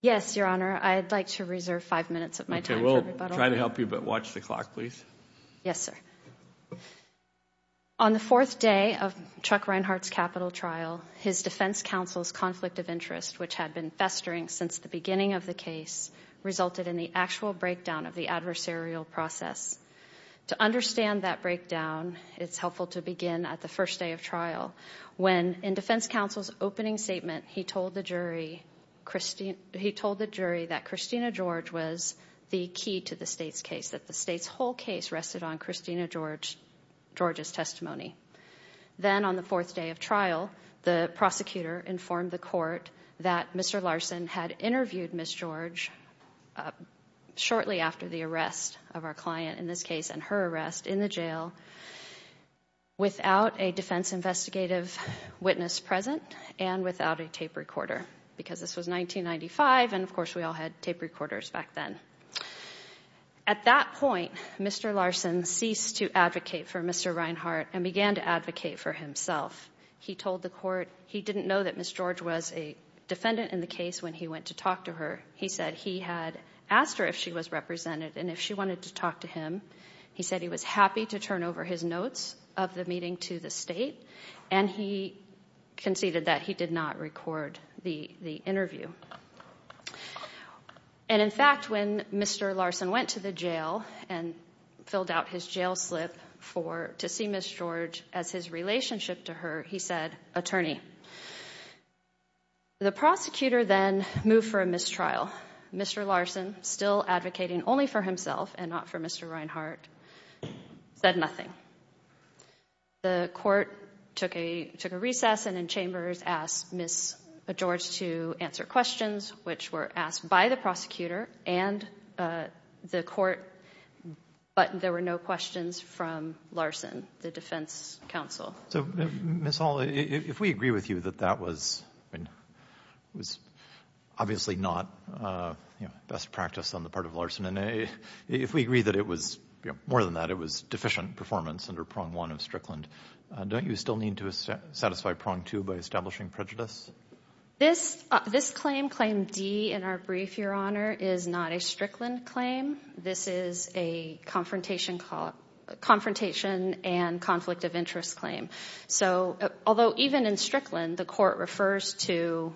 Yes, Your Honor, I'd like to reserve five minutes of my time for rebuttal. Okay, we'll try to help you, but watch the clock, please. Yes, sir. On the fourth day of Chuck Rienhardt's capital trial, his defense counsel's conflict of interest, which had been festering since the beginning of the case, resulted in the actual breakdown of the adversarial process. To understand that breakdown, it's helpful to begin at the first day of trial when, in defense counsel's opening statement, he told the jury that Christina George was the key to the state's case, that the state's whole case rested on Christina George's testimony. Then, on the fourth day of trial, the prosecutor informed the court that Mr. Larson had interviewed Ms. George shortly after the arrest of our client in this case and her arrest in the jail without a defense investigative witness present and without a tape recorder, because this was 1995 and, of course, we all had tape recorders back then. At that point, Mr. Larson ceased to advocate for Mr. Rienhardt and began to advocate for himself. He told the court he didn't know that Ms. George was a defendant in the case when he went to talk to her. He said he had asked her if she was represented, and if she wanted to talk to him, he said he was happy to turn over his notes of the meeting to the state, and he conceded that he did not record the interview. In fact, when Mr. Larson went to the jail and filled out his jail slip to see Ms. George as his relationship to her, he said, attorney. The prosecutor then moved for a mistrial, Mr. Larson, still advocating only for himself and not for Mr. Rienhardt, said nothing. The court took a recess and in chambers asked Ms. George to answer questions, which were asked by the prosecutor and the court, but there were no questions from Larson, the defense counsel. So, Ms. Hall, if we agree with you that that was obviously not best practice on the part of Larson, and if we agree that it was more than that, it was deficient performance under prong one of Strickland, don't you still need to satisfy prong two by establishing prejudice? This claim, claim D in our brief, Your Honor, is not a Strickland claim. This is a confrontation and conflict of interest claim. So, although even in Strickland, the court refers to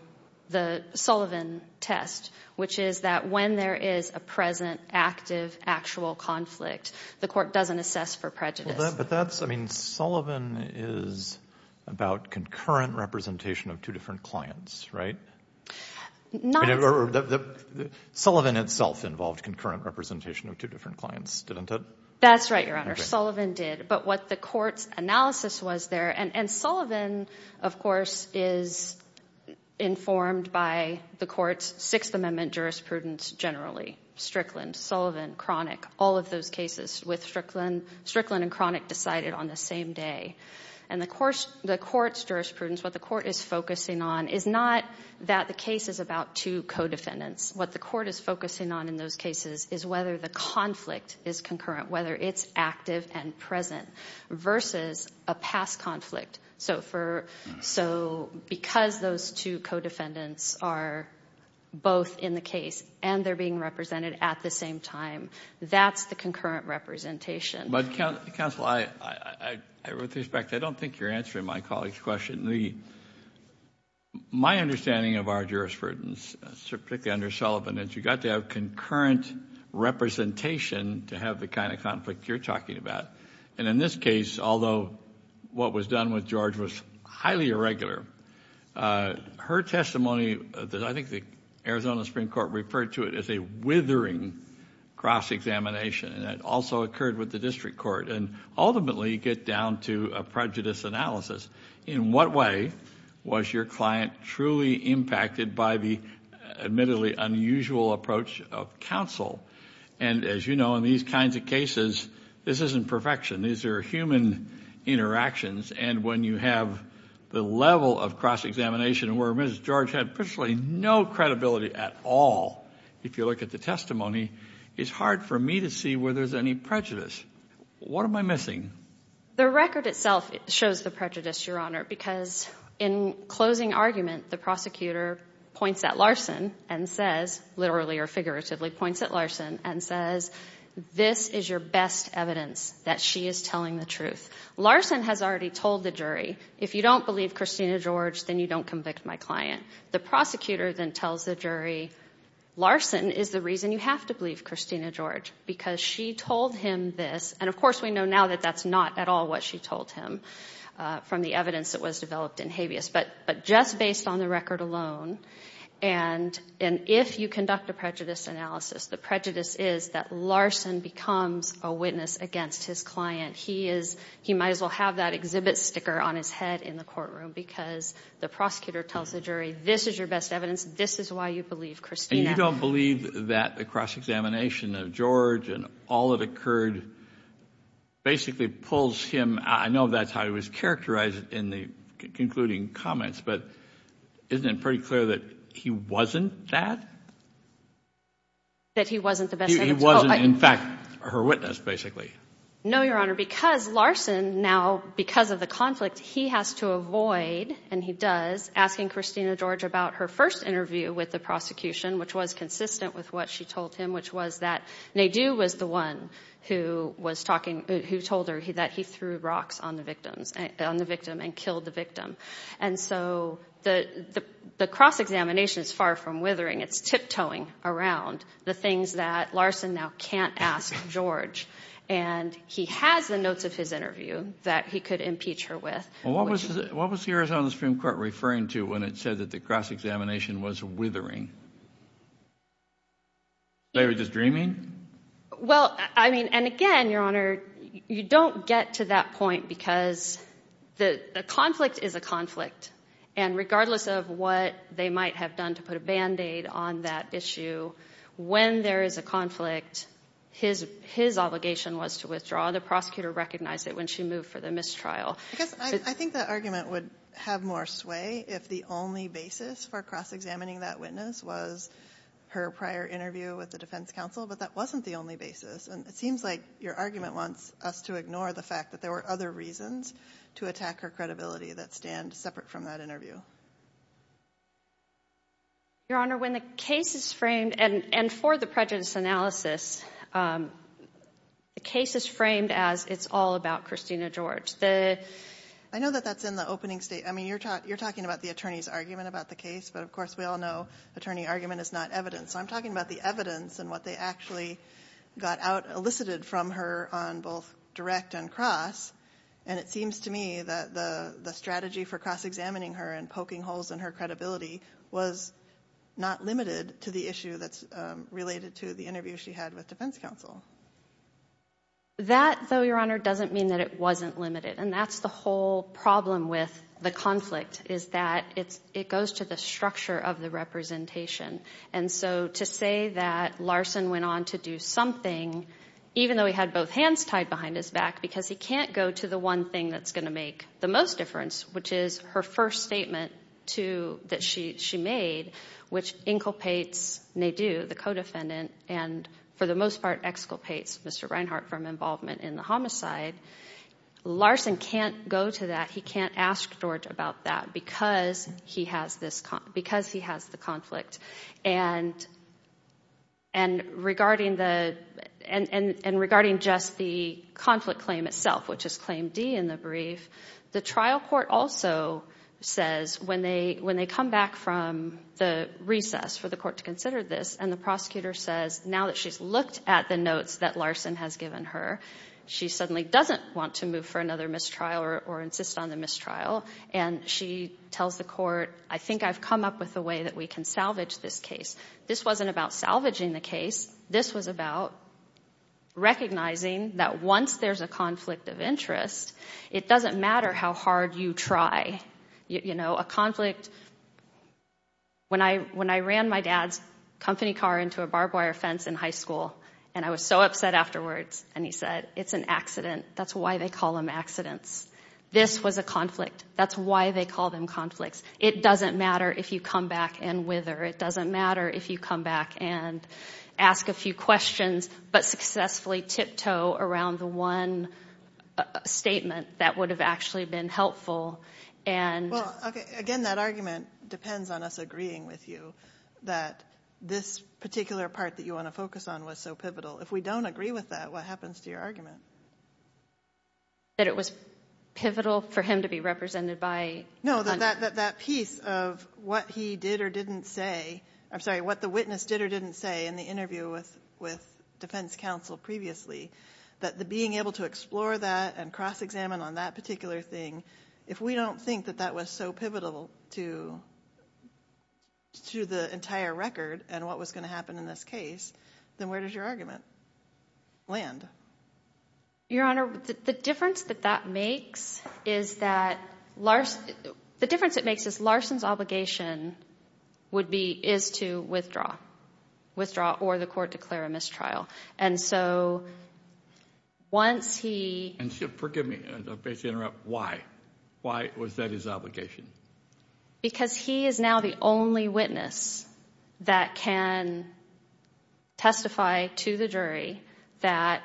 the Sullivan test, which is that when there is a present, active, actual conflict, the court doesn't assess for prejudice. But that's, I mean, Sullivan is about concurrent representation of two different clients, right? Sullivan itself involved concurrent representation of two different clients, didn't it? That's right, Your Honor. Sullivan did. But what the court's analysis was there, and Sullivan, of course, is informed by the court's Sixth Amendment jurisprudence generally. Strickland, Sullivan, Cronick, all of those cases with Strickland. Strickland and Cronick decided on the same day. And the court's jurisprudence, what the court is focusing on is not that the case is about two co-defendants. What the court is focusing on in those cases is whether the conflict is concurrent, whether it's active and present versus a past conflict. So, because those two co-defendants are both in the case and they're being represented at the same time, that's the concurrent representation. But, counsel, with respect, I don't think you're answering my colleague's question. My understanding of our jurisprudence, particularly under Sullivan, is you've got to have concurrent representation to have the kind of conflict you're talking about. And in this case, although what was done with George was highly irregular, her testimony, I think the Arizona Supreme Court referred to it as a withering cross-examination. And that also occurred with the district court. And ultimately, you get down to a prejudice analysis. In what way was your client truly impacted by the admittedly unusual approach of counsel? And as you know, in these kinds of cases, this isn't perfection. These are human interactions. And when you have the level of cross-examination where Mrs. George had virtually no credibility at all, if you look at the testimony, it's hard for me to see where there's any prejudice. What am I missing? The record itself shows the prejudice, Your Honor, because in closing argument, the prosecutor points at Larson and says, literally or figuratively points at Larson and says, this is your best evidence that she is telling the truth. Larson has already told the jury, if you don't believe Christina George, then you don't convict my client. The prosecutor then tells the jury, Larson is the reason you have to believe Christina George, because she told him this. And, of course, we know now that that's not at all what she told him from the evidence that was developed in habeas. But just based on the record alone, and if you conduct a prejudice analysis, the prejudice is that Larson becomes a witness against his client. He might as well have that exhibit sticker on his head in the courtroom because the prosecutor tells the jury, this is your best evidence, this is why you believe Christina. And you don't believe that the cross-examination of George and all that occurred basically pulls him, I know that's how he was characterized in the concluding comments, but isn't it pretty clear that he wasn't that? That he wasn't the best evidence? He wasn't, in fact, her witness, basically. No, Your Honor, because Larson now, because of the conflict, he has to avoid, and he does, asking Christina George about her first interview with the prosecution, which was consistent with what she told him, which was that Nadeau was the one who told her that he threw rocks on the victim and killed the victim. And so the cross-examination is far from withering. It's tiptoeing around the things that Larson now can't ask George. And he has the notes of his interview that he could impeach her with. What was the Arizona Supreme Court referring to when it said that the cross-examination was withering? They were just dreaming? Well, I mean, and again, Your Honor, you don't get to that point because the conflict is a conflict. And regardless of what they might have done to put a Band-Aid on that issue, when there is a conflict, his obligation was to withdraw. The prosecutor recognized it when she moved for the mistrial. I think that argument would have more sway if the only basis for cross-examining that witness was her prior interview with the defense counsel, but that wasn't the only basis. And it seems like your argument wants us to ignore the fact that there were other reasons to attack her credibility that stand separate from that interview. Your Honor, when the case is framed, and for the prejudice analysis, the case is framed as it's all about Christina George. I know that that's in the opening statement. I mean, you're talking about the attorney's argument about the case, but of course we all know attorney argument is not evidence. So I'm talking about the evidence and what they actually got out, elicited from her on both direct and cross. And it seems to me that the strategy for cross-examining her and poking holes in her credibility was not limited to the issue that's related to the interview she had with defense counsel. That, though, Your Honor, doesn't mean that it wasn't limited. And that's the whole problem with the conflict is that it goes to the structure of the representation. And so to say that Larson went on to do something, even though he had both hands tied behind his back because he can't go to the one thing that's going to make the most difference, which is her first statement that she made, which inculpates Nadu, the co-defendant, and for the most part exculpates Mr. Reinhart from involvement in the homicide. Larson can't go to that. He can't ask George about that because he has the conflict. And regarding just the conflict claim itself, which is Claim D in the brief, the trial court also says when they come back from the recess for the court to consider this and the prosecutor says now that she's looked at the notes that Larson has given her, she suddenly doesn't want to move for another mistrial or insist on the mistrial, and she tells the court, I think I've come up with a way that we can salvage this case. This wasn't about salvaging the case. This was about recognizing that once there's a conflict of interest, it doesn't matter how hard you try. You know, a conflict, when I ran my dad's company car into a barbed wire fence in high school and I was so upset afterwards and he said, it's an accident. That's why they call them accidents. This was a conflict. That's why they call them conflicts. It doesn't matter if you come back and wither. It doesn't matter if you come back and ask a few questions but successfully tiptoe around the one statement that would have actually been helpful. Well, again, that argument depends on us agreeing with you that this particular part that you want to focus on was so pivotal. If we don't agree with that, what happens to your argument? That it was pivotal for him to be represented by? No, that piece of what he did or didn't say. I'm sorry, what the witness did or didn't say in the interview with defense counsel previously. That being able to explore that and cross-examine on that particular thing, if we don't think that that was so pivotal to the entire record and what was going to happen in this case, then where does your argument land? Your Honor, the difference that that makes is that Larson's obligation is to withdraw or the court declare a mistrial. Forgive me, I'm afraid to interrupt. Why was that his obligation? Because he is now the only witness that can testify to the jury that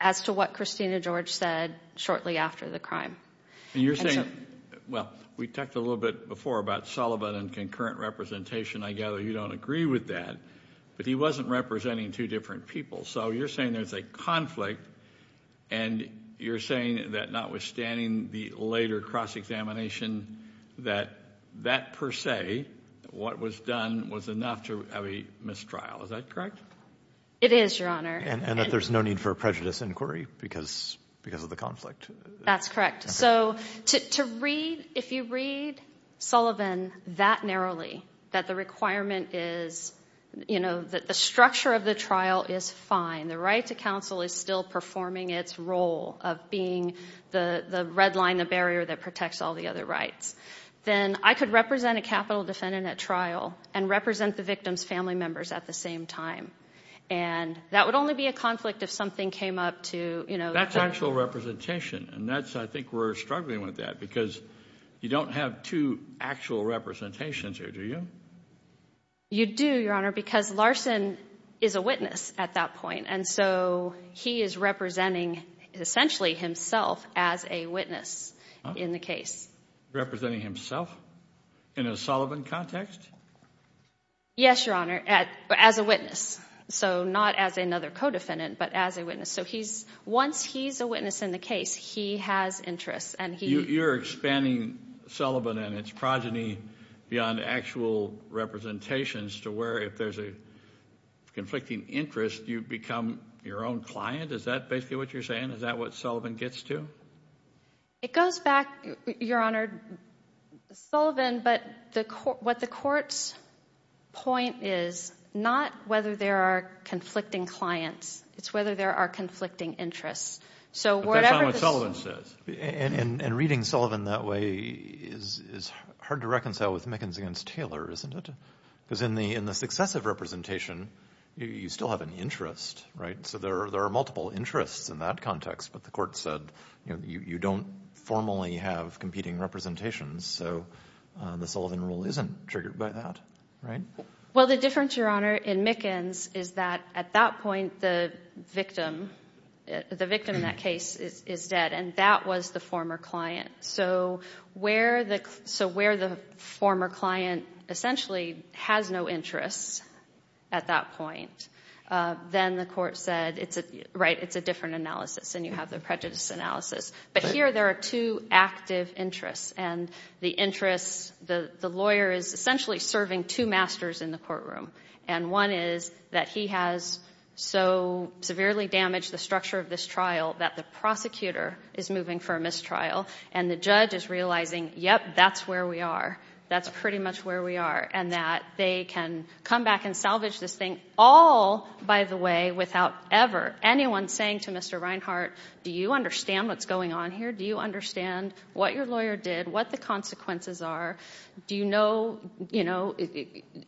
as to what Christina George said shortly after the crime. And you're saying, well, we talked a little bit before about Sullivan and concurrent representation. I gather you don't agree with that, but he wasn't representing two different people. So you're saying there's a conflict and you're saying that notwithstanding the later cross-examination, that that per se, what was done was enough to have a mistrial. Is that correct? It is, Your Honor. And that there's no need for a prejudice inquiry because of the conflict? That's correct. So to read, if you read Sullivan that narrowly, that the requirement is that the structure of the trial is fine, the right to counsel is still performing its role of being the red line, the barrier that protects all the other rights, then I could represent a capital defendant at trial and represent the victim's family members at the same time. And that would only be a conflict if something came up to... That's actual representation, and I think we're struggling with that because you don't have two actual representations here, do you? You do, Your Honor, because Larson is a witness at that point, and so he is representing essentially himself as a witness in the case. Representing himself in a Sullivan context? Yes, Your Honor, as a witness. So not as another co-defendant, but as a witness. So once he's a witness in the case, he has interests. You're expanding Sullivan and its progeny beyond actual representations to where if there's a conflicting interest, you become your own client? Is that basically what you're saying? Is that what Sullivan gets to? It goes back, Your Honor, Sullivan, but what the court's point is not whether there are conflicting clients. It's whether there are conflicting interests. But that's not what Sullivan says. And reading Sullivan that way is hard to reconcile with Mickens against Taylor, isn't it? Because in the successive representation, you still have an interest, right? So there are multiple interests in that context, but the court said you don't formally have competing representations, so the Sullivan rule isn't triggered by that, right? Well, the difference, Your Honor, in Mickens is that at that point the victim in that case is dead, and that was the former client. So where the former client essentially has no interests at that point, then the court said, right, it's a different analysis, and you have the prejudice analysis. But here there are two active interests, and the interest, the lawyer is essentially serving two masters in the courtroom, and one is that he has so severely damaged the structure of this trial that the prosecutor is moving for a mistrial, and the judge is realizing, yep, that's where we are, that's pretty much where we are, and that they can come back and salvage this thing all by the way without ever anyone saying to Mr. Reinhart, do you understand what's going on here? Do you understand what your lawyer did, what the consequences are? Do you know, you know,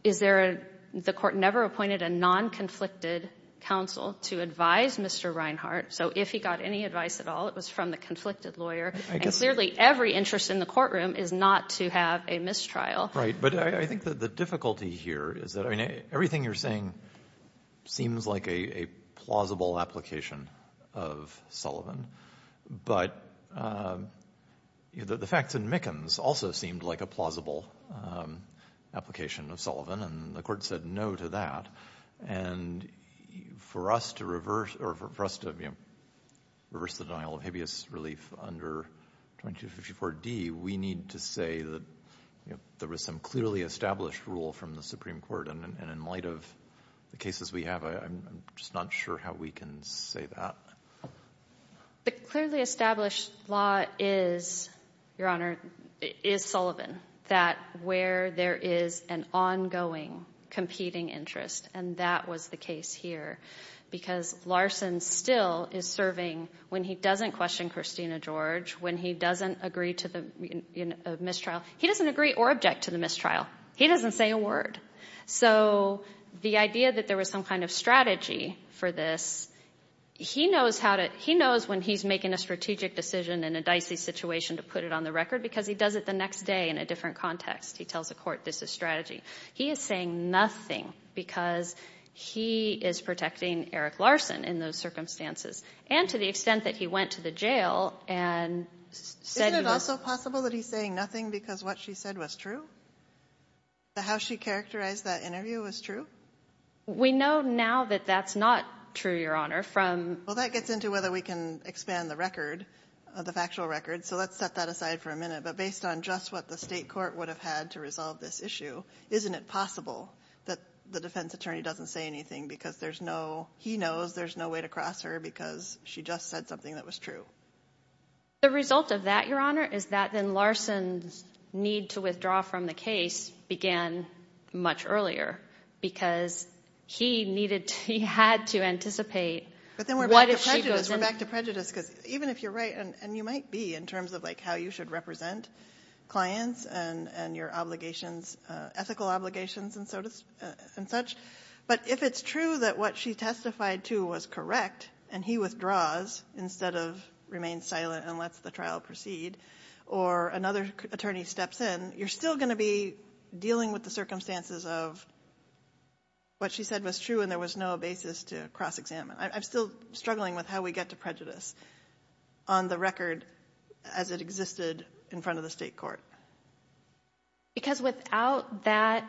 is there a, the court never appointed a non-conflicted counsel to advise Mr. Reinhart, so if he got any advice at all it was from the conflicted lawyer, and clearly every interest in the courtroom is not to have a mistrial. Right, but I think that the difficulty here is that, I mean, everything you're saying seems like a plausible application of Sullivan, but the facts in Mickens also seemed like a plausible application of Sullivan, and the court said no to that, and for us to reverse, or for us to, you know, reverse the denial of habeas relief under 2254 D, we need to say that there was some clearly established rule from the Supreme Court, and in light of the cases we have I'm just not sure how we can say that. The clearly established law is, Your Honor, is Sullivan, that where there is an ongoing competing interest, and that was the case here, because Larson still is serving when he doesn't question Christina George, when he doesn't agree to the mistrial, he doesn't agree or object to the mistrial, he doesn't say a word. So the idea that there was some kind of strategy for this, he knows when he's making a strategic decision in a dicey situation to put it on the record because he does it the next day in a different context. He tells the court this is strategy. He is saying nothing because he is protecting Eric Larson in those circumstances, and to the extent that he went to the jail and said he was- How she characterized that interview was true? We know now that that's not true, Your Honor, from- Well, that gets into whether we can expand the record, the factual record, so let's set that aside for a minute. But based on just what the state court would have had to resolve this issue, isn't it possible that the defense attorney doesn't say anything because there's no- he knows there's no way to cross her because she just said something that was true? The result of that, Your Honor, is that then Larson's need to withdraw from the case began much earlier because he had to anticipate- But then we're back to prejudice because even if you're right, and you might be in terms of how you should represent clients and your ethical obligations and such, but if it's true that what she testified to was correct and he withdraws instead of remain silent and lets the trial proceed or another attorney steps in, you're still going to be dealing with the circumstances of what she said was true and there was no basis to cross-examine. I'm still struggling with how we get to prejudice on the record as it existed in front of the state court. Because without that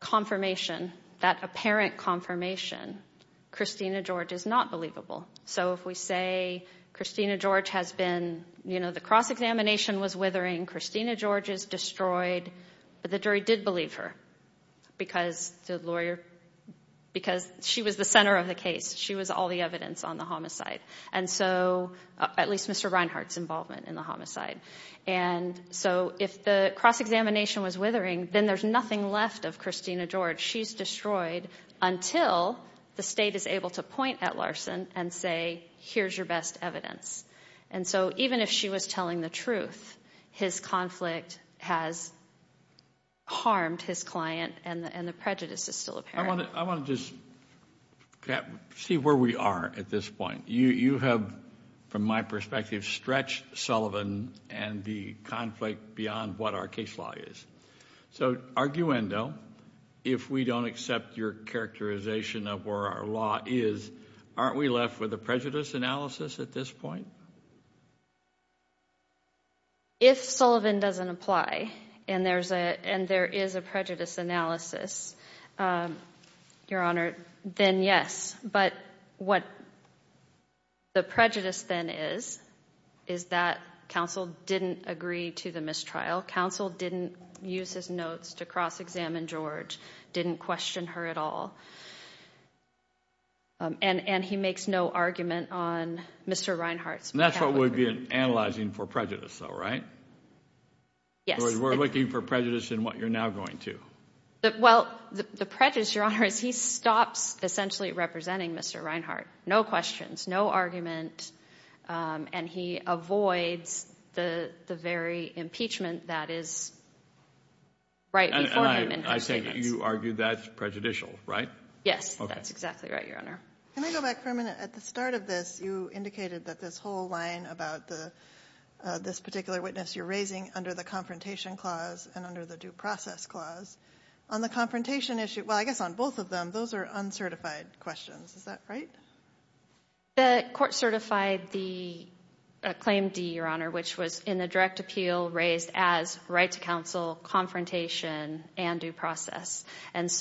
confirmation, that apparent confirmation, Christina George is not believable. So if we say Christina George has been- the cross-examination was withering, Christina George is destroyed, but the jury did believe her because the lawyer- because she was the center of the case. She was all the evidence on the homicide. At least Mr. Reinhart's involvement in the homicide. And so if the cross-examination was withering, then there's nothing left of Christina George. She's destroyed until the state is able to point at Larson and say, here's your best evidence. And so even if she was telling the truth, his conflict has harmed his client and the prejudice is still apparent. I want to just see where we are at this point. You have, from my perspective, stretched Sullivan and the conflict beyond what our case law is. So, arguendo, if we don't accept your characterization of where our law is, aren't we left with a prejudice analysis at this point? If Sullivan doesn't apply and there is a prejudice analysis, Your Honor, then yes. But what the prejudice then is, is that counsel didn't agree to the mistrial. Counsel didn't use his notes to cross-examine George, didn't question her at all. And he makes no argument on Mr. Reinhart's behalf. And that's what we're analyzing for prejudice, though, right? Yes. We're looking for prejudice in what you're now going to. Well, the prejudice, Your Honor, is he stops essentially representing Mr. Reinhart. No questions, no argument. And he avoids the very impeachment that is right before him in his statements. And I take it you argue that's prejudicial, right? Yes, that's exactly right, Your Honor. Can I go back for a minute? At the start of this, you indicated that this whole line about this particular witness you're raising under the Confrontation Clause and under the Due Process Clause. On the confrontation issue, well, I guess on both of them, those are uncertified questions. Is that right? The court certified the Claim D, Your Honor, which was in the direct appeal raised as right to counsel, confrontation, and due process. And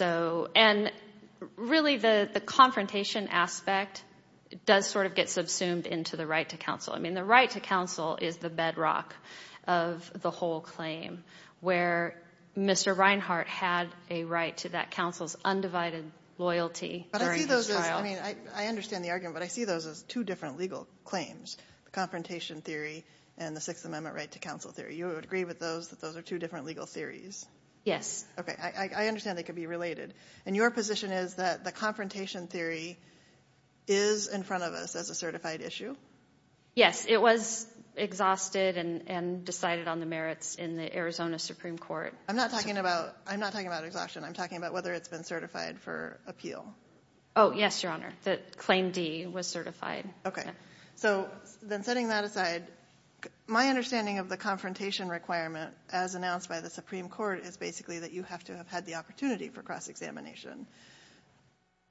really, the confrontation aspect does sort of get subsumed into the right to counsel. I mean, the right to counsel is the bedrock of the whole claim where Mr. Reinhart had a right to that counsel's undivided loyalty during his trial. But I see those as, I mean, I understand the argument, but I see those as two different legal claims, the Confrontation Theory and the Sixth Amendment Right to Counsel Theory. You would agree with those that those are two different legal theories? Yes. Okay. I understand they could be related. And your position is that the Confrontation Theory is in front of us as a certified issue? Yes. It was exhausted and decided on the merits in the Arizona Supreme Court. I'm not talking about exhaustion. I'm talking about whether it's been certified for appeal. Oh, yes, Your Honor. The Claim D was certified. Okay. So then setting that aside, my understanding of the confrontation requirement as announced by the Supreme Court is basically that you have to have had the opportunity for cross-examination.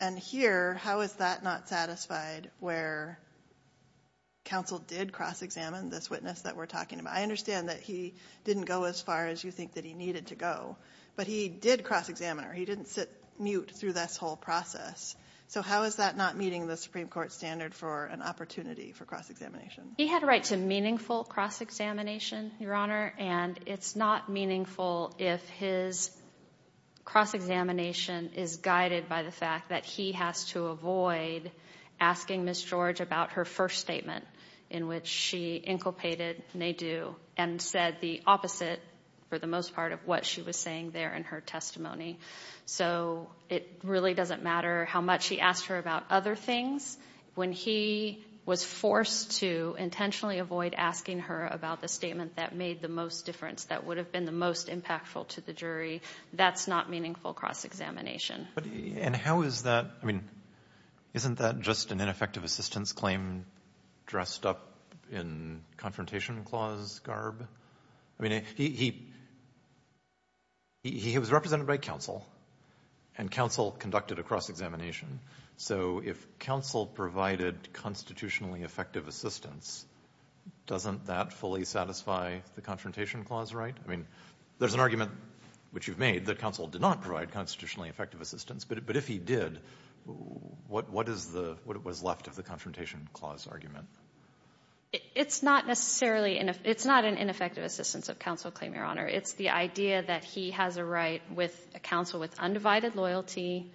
And here, how is that not satisfied where counsel did cross-examine this witness that we're talking about? I understand that he didn't go as far as you think that he needed to go, but he did cross-examine her. He didn't sit mute through this whole process. So how is that not meeting the Supreme Court standard for an opportunity for cross-examination? He had a right to meaningful cross-examination, Your Honor, and it's not meaningful if his cross-examination is guided by the fact that he has to avoid asking Ms. George about her first statement in which she inculpated, nay do, and said the opposite for the most part of what she was saying there in her testimony. So it really doesn't matter how much he asked her about other things. When he was forced to intentionally avoid asking her about the statement that made the most difference, that would have been the most impactful to the jury, that's not meaningful cross-examination. And how is that? I mean, isn't that just an ineffective assistance claim dressed up in confrontation clause garb? I mean, he was represented by counsel, and counsel conducted a cross-examination. So if counsel provided constitutionally effective assistance, doesn't that fully satisfy the confrontation clause right? I mean, there's an argument, which you've made, that counsel did not provide constitutionally effective assistance. But if he did, what was left of the confrontation clause argument? It's not necessarily an ineffective assistance of counsel claim, Your Honor. It's the idea that he has a right with counsel with undivided loyalty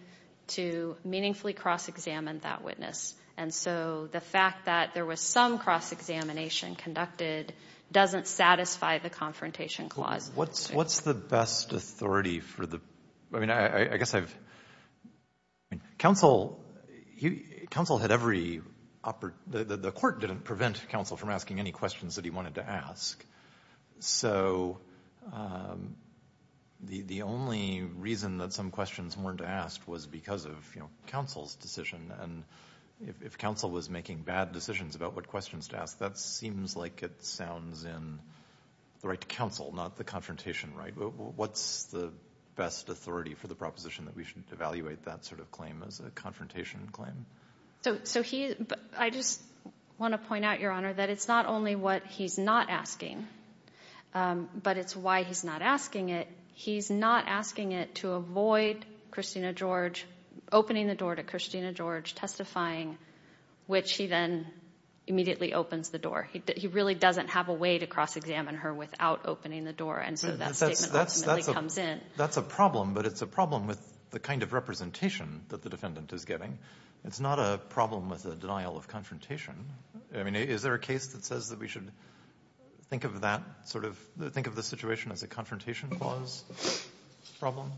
to meaningfully cross-examine that witness. And so the fact that there was some cross-examination conducted doesn't satisfy the confrontation clause. What's the best authority for the, I mean, I guess I've, counsel had every, the court didn't prevent counsel from asking any questions that he wanted to ask. So the only reason that some questions weren't asked was because of, you know, counsel's decision. And if counsel was making bad decisions about what questions to ask, that seems like it sounds in the right to counsel, not the confrontation right. What's the best authority for the proposition that we should evaluate that sort of claim as a confrontation claim? So he, I just want to point out, Your Honor, that it's not only what he's not asking, but it's why he's not asking it. He's not asking it to avoid Christina George opening the door to Christina George testifying, which he then immediately opens the door. He really doesn't have a way to cross-examine her without opening the door. And so that statement ultimately comes in. That's a problem, but it's a problem with the kind of representation that the defendant is getting. It's not a problem with a denial of confrontation. I mean, is there a case that says that we should think of that sort of, think of the situation as a confrontation clause problem?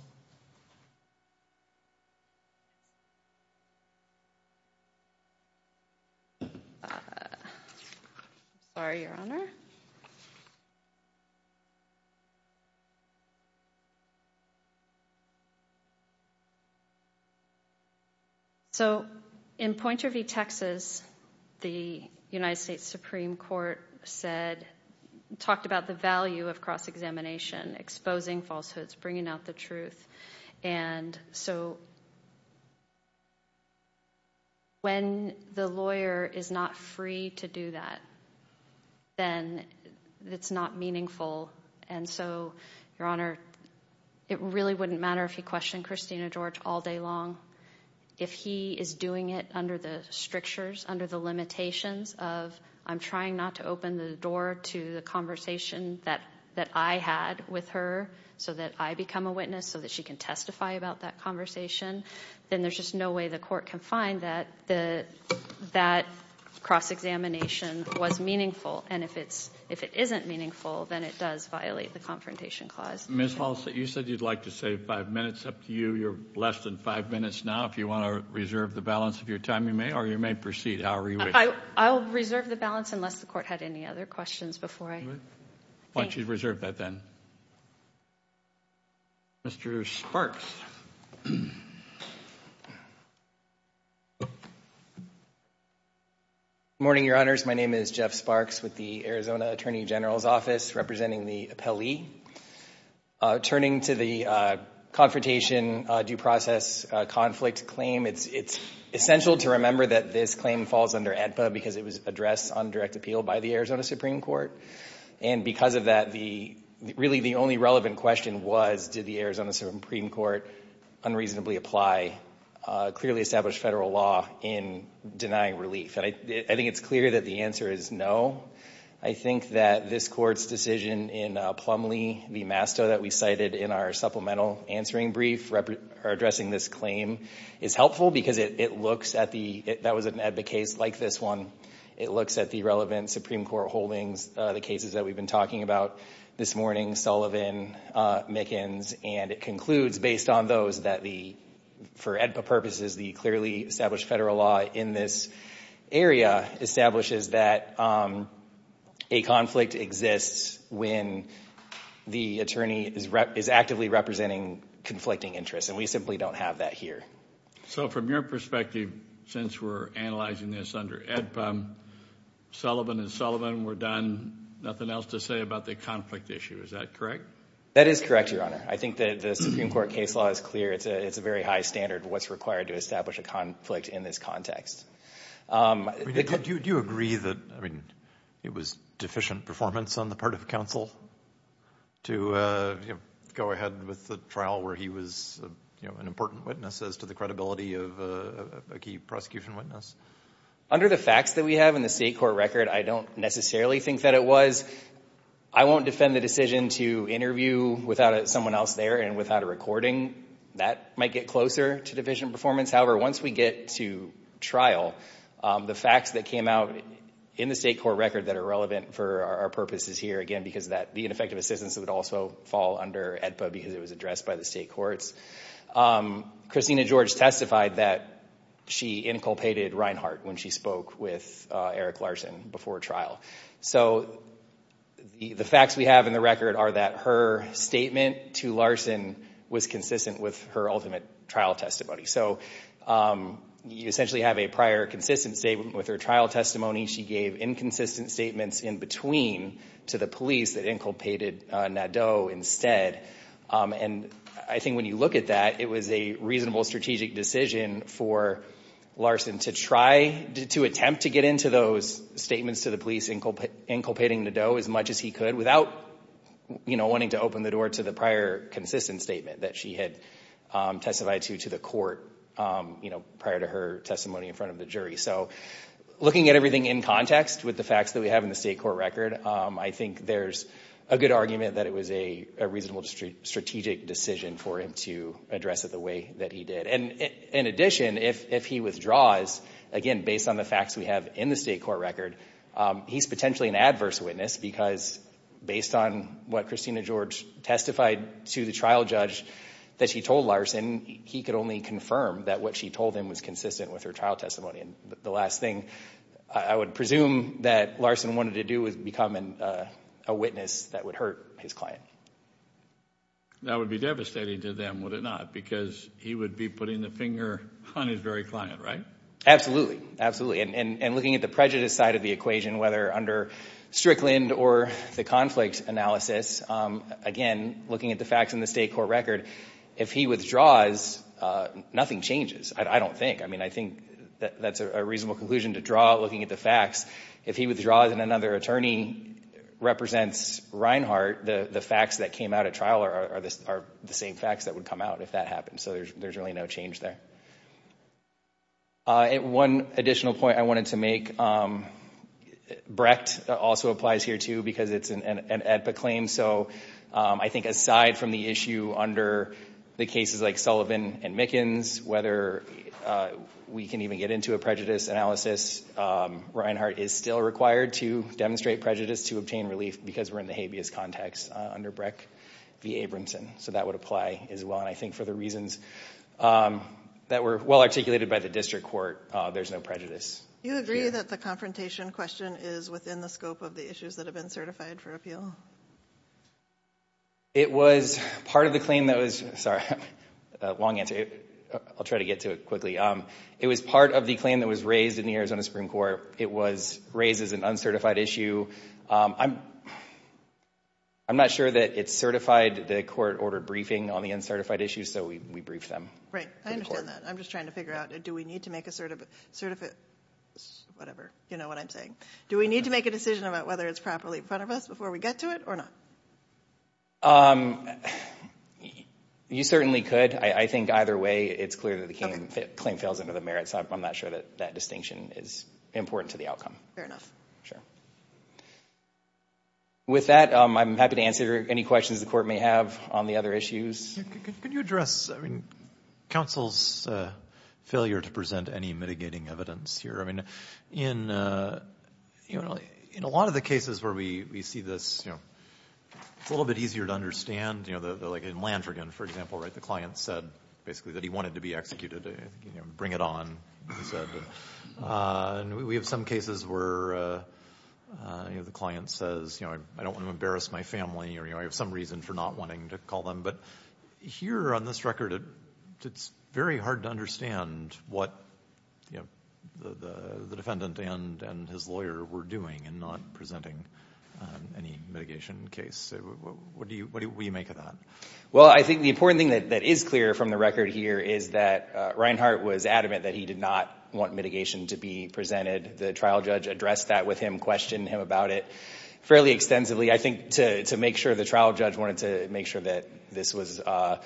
Sorry, Your Honor. So in Pointer v. Texas, the United States Supreme Court said, talked about the value of cross-examination, exposing falsehoods, bringing out the truth. And so when the lawyer is not free to do that, then it's not meaningful. And so, Your Honor, it really wouldn't matter if he questioned Christina George all day long. If he is doing it under the strictures, under the limitations of, I'm trying not to open the door to the conversation that I had with her so that I become a witness, so that she can testify about that conversation, then there's just no way the court can find that that cross-examination was meaningful. And if it isn't meaningful, then it does violate the confrontation clause. Ms. Hall, you said you'd like to save five minutes. Up to you. You're less than five minutes now. If you want to reserve the balance of your time, you may, or you may proceed however you wish. I'll reserve the balance unless the court had any other questions before I thank you. Why don't you reserve that then? Mr. Sparks. Good morning, Your Honors. My name is Jeff Sparks with the Arizona Attorney General's Office representing the appellee. Turning to the confrontation due process conflict claim, it's essential to remember that this claim falls under ADPA because it was addressed on direct appeal by the Arizona Supreme Court. And because of that, really the only relevant question was, did the Arizona Supreme Court unreasonably apply clearly established federal law in denying relief? And I think it's clear that the answer is no. I think that this court's decision in Plumlee v. Masto that we cited in our supplemental answering brief addressing this claim is helpful because it looks at the, that was an ADPA case like this one. It looks at the relevant Supreme Court holdings, the cases that we've been talking about this morning, Sullivan, Mickens. And it concludes based on those that the, for ADPA purposes, the clearly established federal law in this area establishes that a conflict exists when the attorney is actively representing conflicting interests. And we simply don't have that here. So from your perspective, since we're analyzing this under ADPA, Sullivan and Sullivan were done, nothing else to say about the conflict issue. Is that correct? That is correct, Your Honor. I think that the Supreme Court case law is clear. It's a very high standard of what's required to establish a conflict in this context. Do you agree that, I mean, it was deficient performance on the part of counsel to go ahead with the trial where he was an important witness as to the credibility of a key prosecution witness? Under the facts that we have in the state court record, I don't necessarily think that it was. I won't defend the decision to interview without someone else there and without a recording. That might get closer to deficient performance. However, once we get to trial, the facts that came out in the state court record that are relevant for our purposes here, again, because that, the ineffective assistance would also fall under ADPA because it was addressed by the state courts. Christina George testified that she inculpated Reinhart when she spoke with Eric Larson before trial. So the facts we have in the record are that her statement to Larson was consistent with her ultimate trial testimony. So you essentially have a prior consistent statement with her trial testimony. She gave inconsistent statements in between to the police that inculpated Nadeau instead. And I think when you look at that, it was a reasonable strategic decision for Larson to try to attempt to get into those statements to the police inculpating Nadeau as much as he could without wanting to open the door to the prior consistent statement that she had testified to to the court prior to her testimony in front of the jury. So looking at everything in context with the facts that we have in the state court record, I think there's a good argument that it was a reasonable strategic decision for him to address it the way that he did. And in addition, if he withdraws, again, based on the facts we have in the state court record, he's potentially an adverse witness because based on what Christina George testified to the trial judge that she told Larson, he could only confirm that what she told him was consistent with her trial testimony. And the last thing I would presume that Larson wanted to do was become a witness that would hurt his client. That would be devastating to them, would it not? Because he would be putting the finger on his very client, right? Absolutely. Absolutely. And looking at the prejudice side of the equation, whether under Strickland or the conflict analysis, again, looking at the facts in the state court record, if he withdraws, nothing changes, I don't think. I mean, I think that's a reasonable conclusion to draw looking at the facts. If he withdraws and another attorney represents Reinhart, the facts that came out at trial are the same facts that would come out if that happened. So there's really no change there. One additional point I wanted to make, Brecht also applies here too because it's an AEDPA claim. So I think aside from the issue under the cases like Sullivan and Mickens, whether we can even get into a prejudice analysis, Reinhart is still required to demonstrate prejudice to obtain relief because we're in the habeas context under Brecht v. Abramson. So that would apply as well. And I think for the reasons that were well articulated by the district court, there's no prejudice. Do you agree that the confrontation question is within the scope of the issues that have been certified for appeal? It was part of the claim that was – sorry, long answer. I'll try to get to it quickly. It was part of the claim that was raised in the Arizona Supreme Court. It was raised as an uncertified issue. I'm not sure that it's certified. The court ordered briefing on the uncertified issues, so we briefed them. Right. I understand that. I'm just trying to figure out do we need to make a – whatever. You know what I'm saying. Do we need to make a decision about whether it's properly in front of us before we get to it or not? You certainly could. I think either way, it's clear that the claim fails under the merits. I'm not sure that that distinction is important to the outcome. Fair enough. Sure. With that, I'm happy to answer any questions the court may have on the other issues. Could you address counsel's failure to present any mitigating evidence here? I mean, in a lot of the cases where we see this, it's a little bit easier to understand. Like in Landrigan, for example, the client said basically that he wanted to be executed, bring it on. We have some cases where the client says I don't want to embarrass my family or I have some reason for not wanting to call them. But here on this record, it's very hard to understand what the defendant and his lawyer were doing in not presenting any mitigation case. What do you make of that? Well, I think the important thing that is clear from the record here is that Reinhart was adamant that he did not want mitigation to be presented. The trial judge addressed that with him, questioned him about it fairly extensively. I think to make sure, the trial judge wanted to make sure that this was a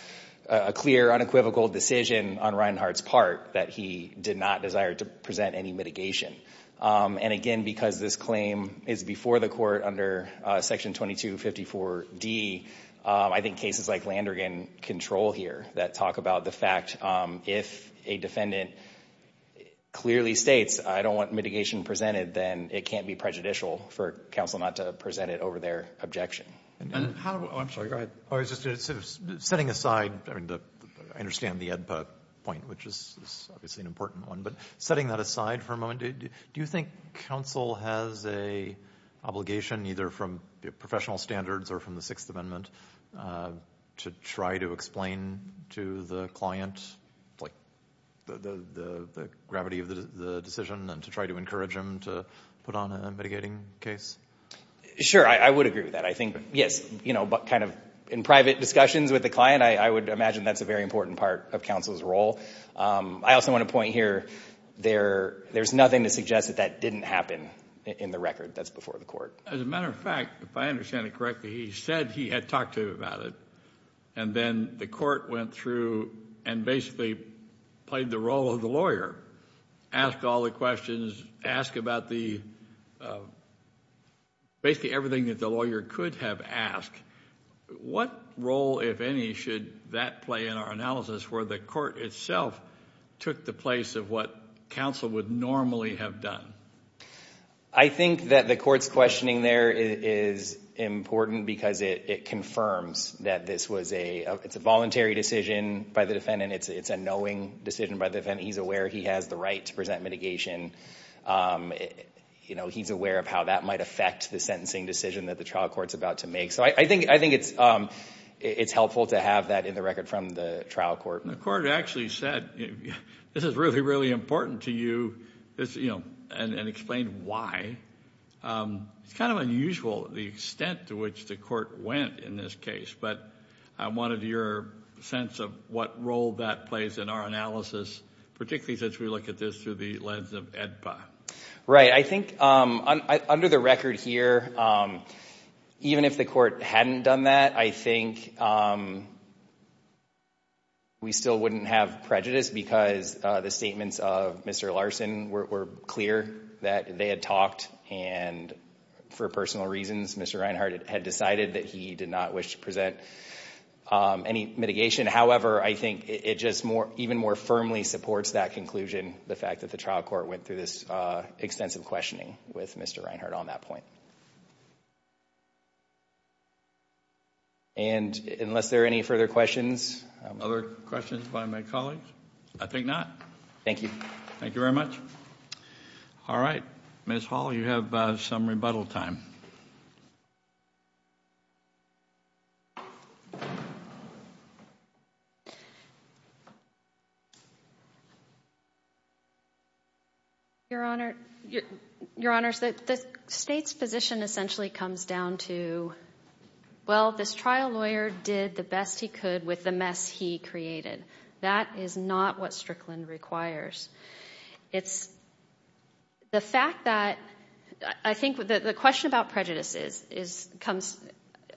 clear, unequivocal decision on Reinhart's part that he did not desire to present any mitigation. And again, because this claim is before the court under Section 2254D, I think cases like Landrigan control here that talk about the fact if a defendant clearly states I don't want mitigation presented, then it can't be prejudicial for counsel not to present it over their objection. I'm sorry, go ahead. Setting aside, I understand the AEDPA point, which is obviously an important one, but setting that aside for a moment, do you think counsel has an obligation, either from professional standards or from the Sixth Amendment, to try to explain to the client the gravity of the decision and to try to encourage him to put on a mitigating case? Sure, I would agree with that. I think, yes, in private discussions with the client, I would imagine that's a very important part of counsel's role. I also want to point here, there's nothing to suggest that that didn't happen in the record. That's before the court. As a matter of fact, if I understand it correctly, he said he had talked to him about it, and then the court went through and basically played the role of the lawyer, asked all the questions, asked about basically everything that the lawyer could have asked. What role, if any, should that play in our analysis where the court itself took the place of what counsel would normally have done? I think that the court's questioning there is important because it confirms that this was a voluntary decision by the defendant. It's a knowing decision by the defendant. He's aware he has the right to present mitigation. He's aware of how that might affect the sentencing decision that the trial court's about to make. So I think it's helpful to have that in the record from the trial court. The court actually said this is really, really important to you and explained why. It's kind of unusual the extent to which the court went in this case, but I wanted your sense of what role that plays in our analysis, particularly since we look at this through the lens of AEDPA. Right. I think under the record here, even if the court hadn't done that, I think we still wouldn't have prejudice because the statements of Mr. Larson were clear that they had talked, and for personal reasons, Mr. Reinhart had decided that he did not wish to present any mitigation. However, I think it just even more firmly supports that conclusion, the fact that the trial court went through this extensive questioning with Mr. Reinhart on that point. Unless there are any further questions. Other questions by my colleagues? I think not. Thank you. Thank you very much. All right. Ms. Hall, you have some rebuttal time. Your Honor, your Honor, the state's position essentially comes down to, well, this trial lawyer did the best he could with the mess he created. That is not what Strickland requires. It's the fact that I think the question about prejudice,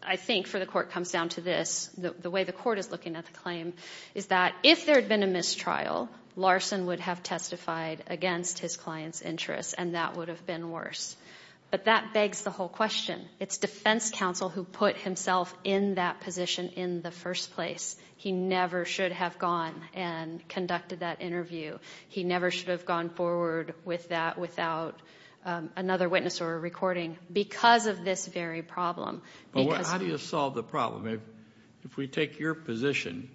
I think for the court, comes down to this. The way the court is looking at the claim is that if there had been a mistrial, Larson would have testified against his client's interests, and that would have been worse. But that begs the whole question. It's defense counsel who put himself in that position in the first place. He never should have gone and conducted that interview. He never should have gone forward with that without another witness or a recording. Because of this very problem. How do you solve the problem? If we take your position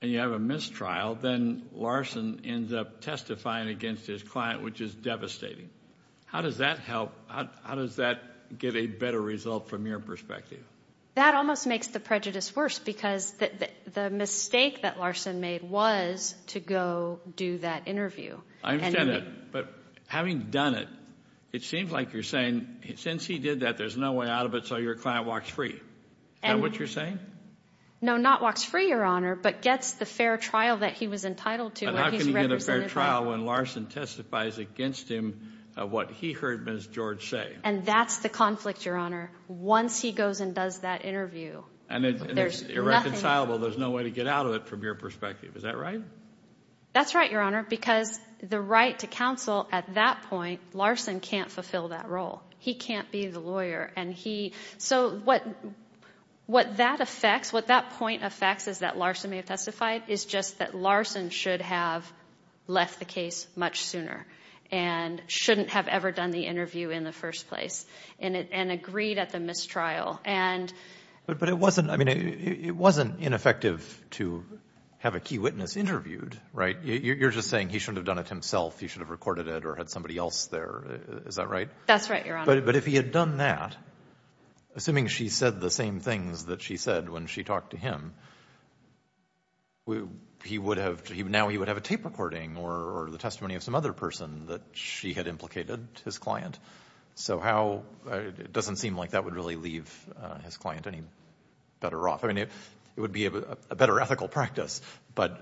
and you have a mistrial, then Larson ends up testifying against his client, which is devastating. How does that help? How does that get a better result from your perspective? That almost makes the prejudice worse, because the mistake that Larson made was to go do that interview. I understand that. But having done it, it seems like you're saying since he did that, there's no way out of it, so your client walks free. Is that what you're saying? No, not walks free, Your Honor, but gets the fair trial that he was entitled to. How can he get a fair trial when Larson testifies against him of what he heard Ms. George say? And that's the conflict, Your Honor. Once he goes and does that interview, there's nothing. And it's irreconcilable. There's no way to get out of it from your perspective. Is that right? That's right, Your Honor. Because the right to counsel at that point, Larson can't fulfill that role. He can't be the lawyer. So what that affects, what that point affects is that Larson may have testified, is just that Larson should have left the case much sooner and shouldn't have ever done the interview in the first place and agreed at the mistrial. But it wasn't ineffective to have a key witness interviewed, right? You're just saying he shouldn't have done it himself. He should have recorded it or had somebody else there. Is that right? That's right, Your Honor. But if he had done that, assuming she said the same things that she said when she talked to him, now he would have a tape recording or the testimony of some other person that she had implicated his client. So it doesn't seem like that would really leave his client any better off. I mean, it would be a better ethical practice. But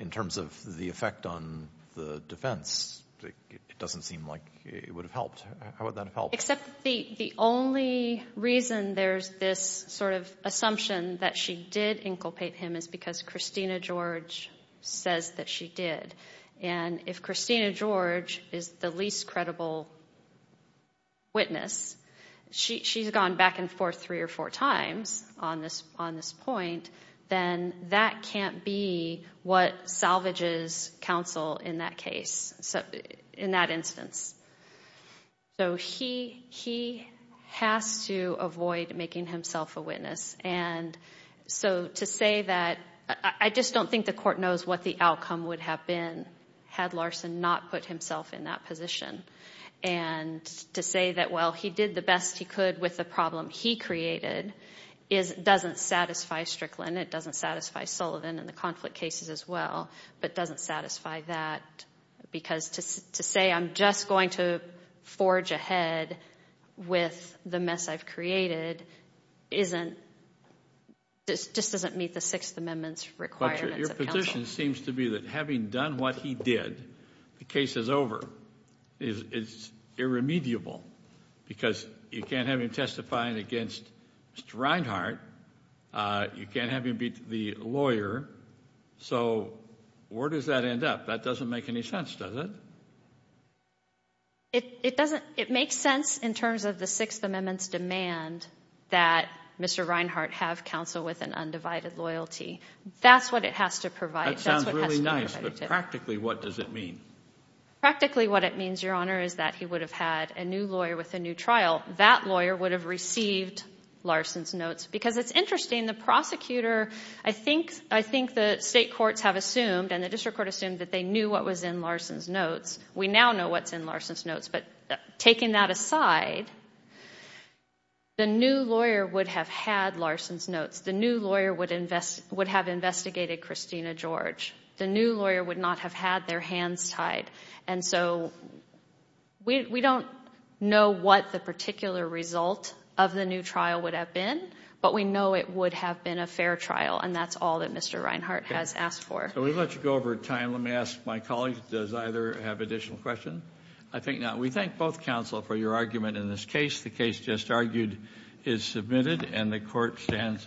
in terms of the effect on the defense, it doesn't seem like it would have helped. How would that help? Except the only reason there's this sort of assumption that she did inculpate him is because Christina George says that she did. And if Christina George is the least credible witness, she's gone back and forth three or four times on this point, then that can't be what salvages counsel in that case, in that instance. So he has to avoid making himself a witness. And so to say that I just don't think the court knows what the outcome would have been had Larson not put himself in that position. And to say that, well, he did the best he could with the problem he created doesn't satisfy Strickland. It doesn't satisfy Sullivan and the conflict cases as well, but doesn't satisfy that. Because to say I'm just going to forge ahead with the mess I've created just doesn't meet the Sixth Amendment's requirements of counsel. The assumption seems to be that having done what he did, the case is over. It's irremediable because you can't have him testifying against Mr. Reinhart. You can't have him be the lawyer. So where does that end up? That doesn't make any sense, does it? It makes sense in terms of the Sixth Amendment's demand that Mr. Reinhart have counsel with an undivided loyalty. That's what it has to provide. That sounds really nice, but practically what does it mean? Practically what it means, Your Honor, is that he would have had a new lawyer with a new trial. That lawyer would have received Larson's notes. Because it's interesting, the prosecutor, I think the state courts have assumed and the district court assumed that they knew what was in Larson's notes. We now know what's in Larson's notes. But taking that aside, the new lawyer would have had Larson's notes. The new lawyer would have investigated Christina George. The new lawyer would not have had their hands tied. And so we don't know what the particular result of the new trial would have been, but we know it would have been a fair trial, and that's all that Mr. Reinhart has asked for. So we'll let you go over time. Let me ask my colleagues, does either have additional questions? I think not. We thank both counsel for your argument in this case. The case just argued is submitted and the court stands adjourned.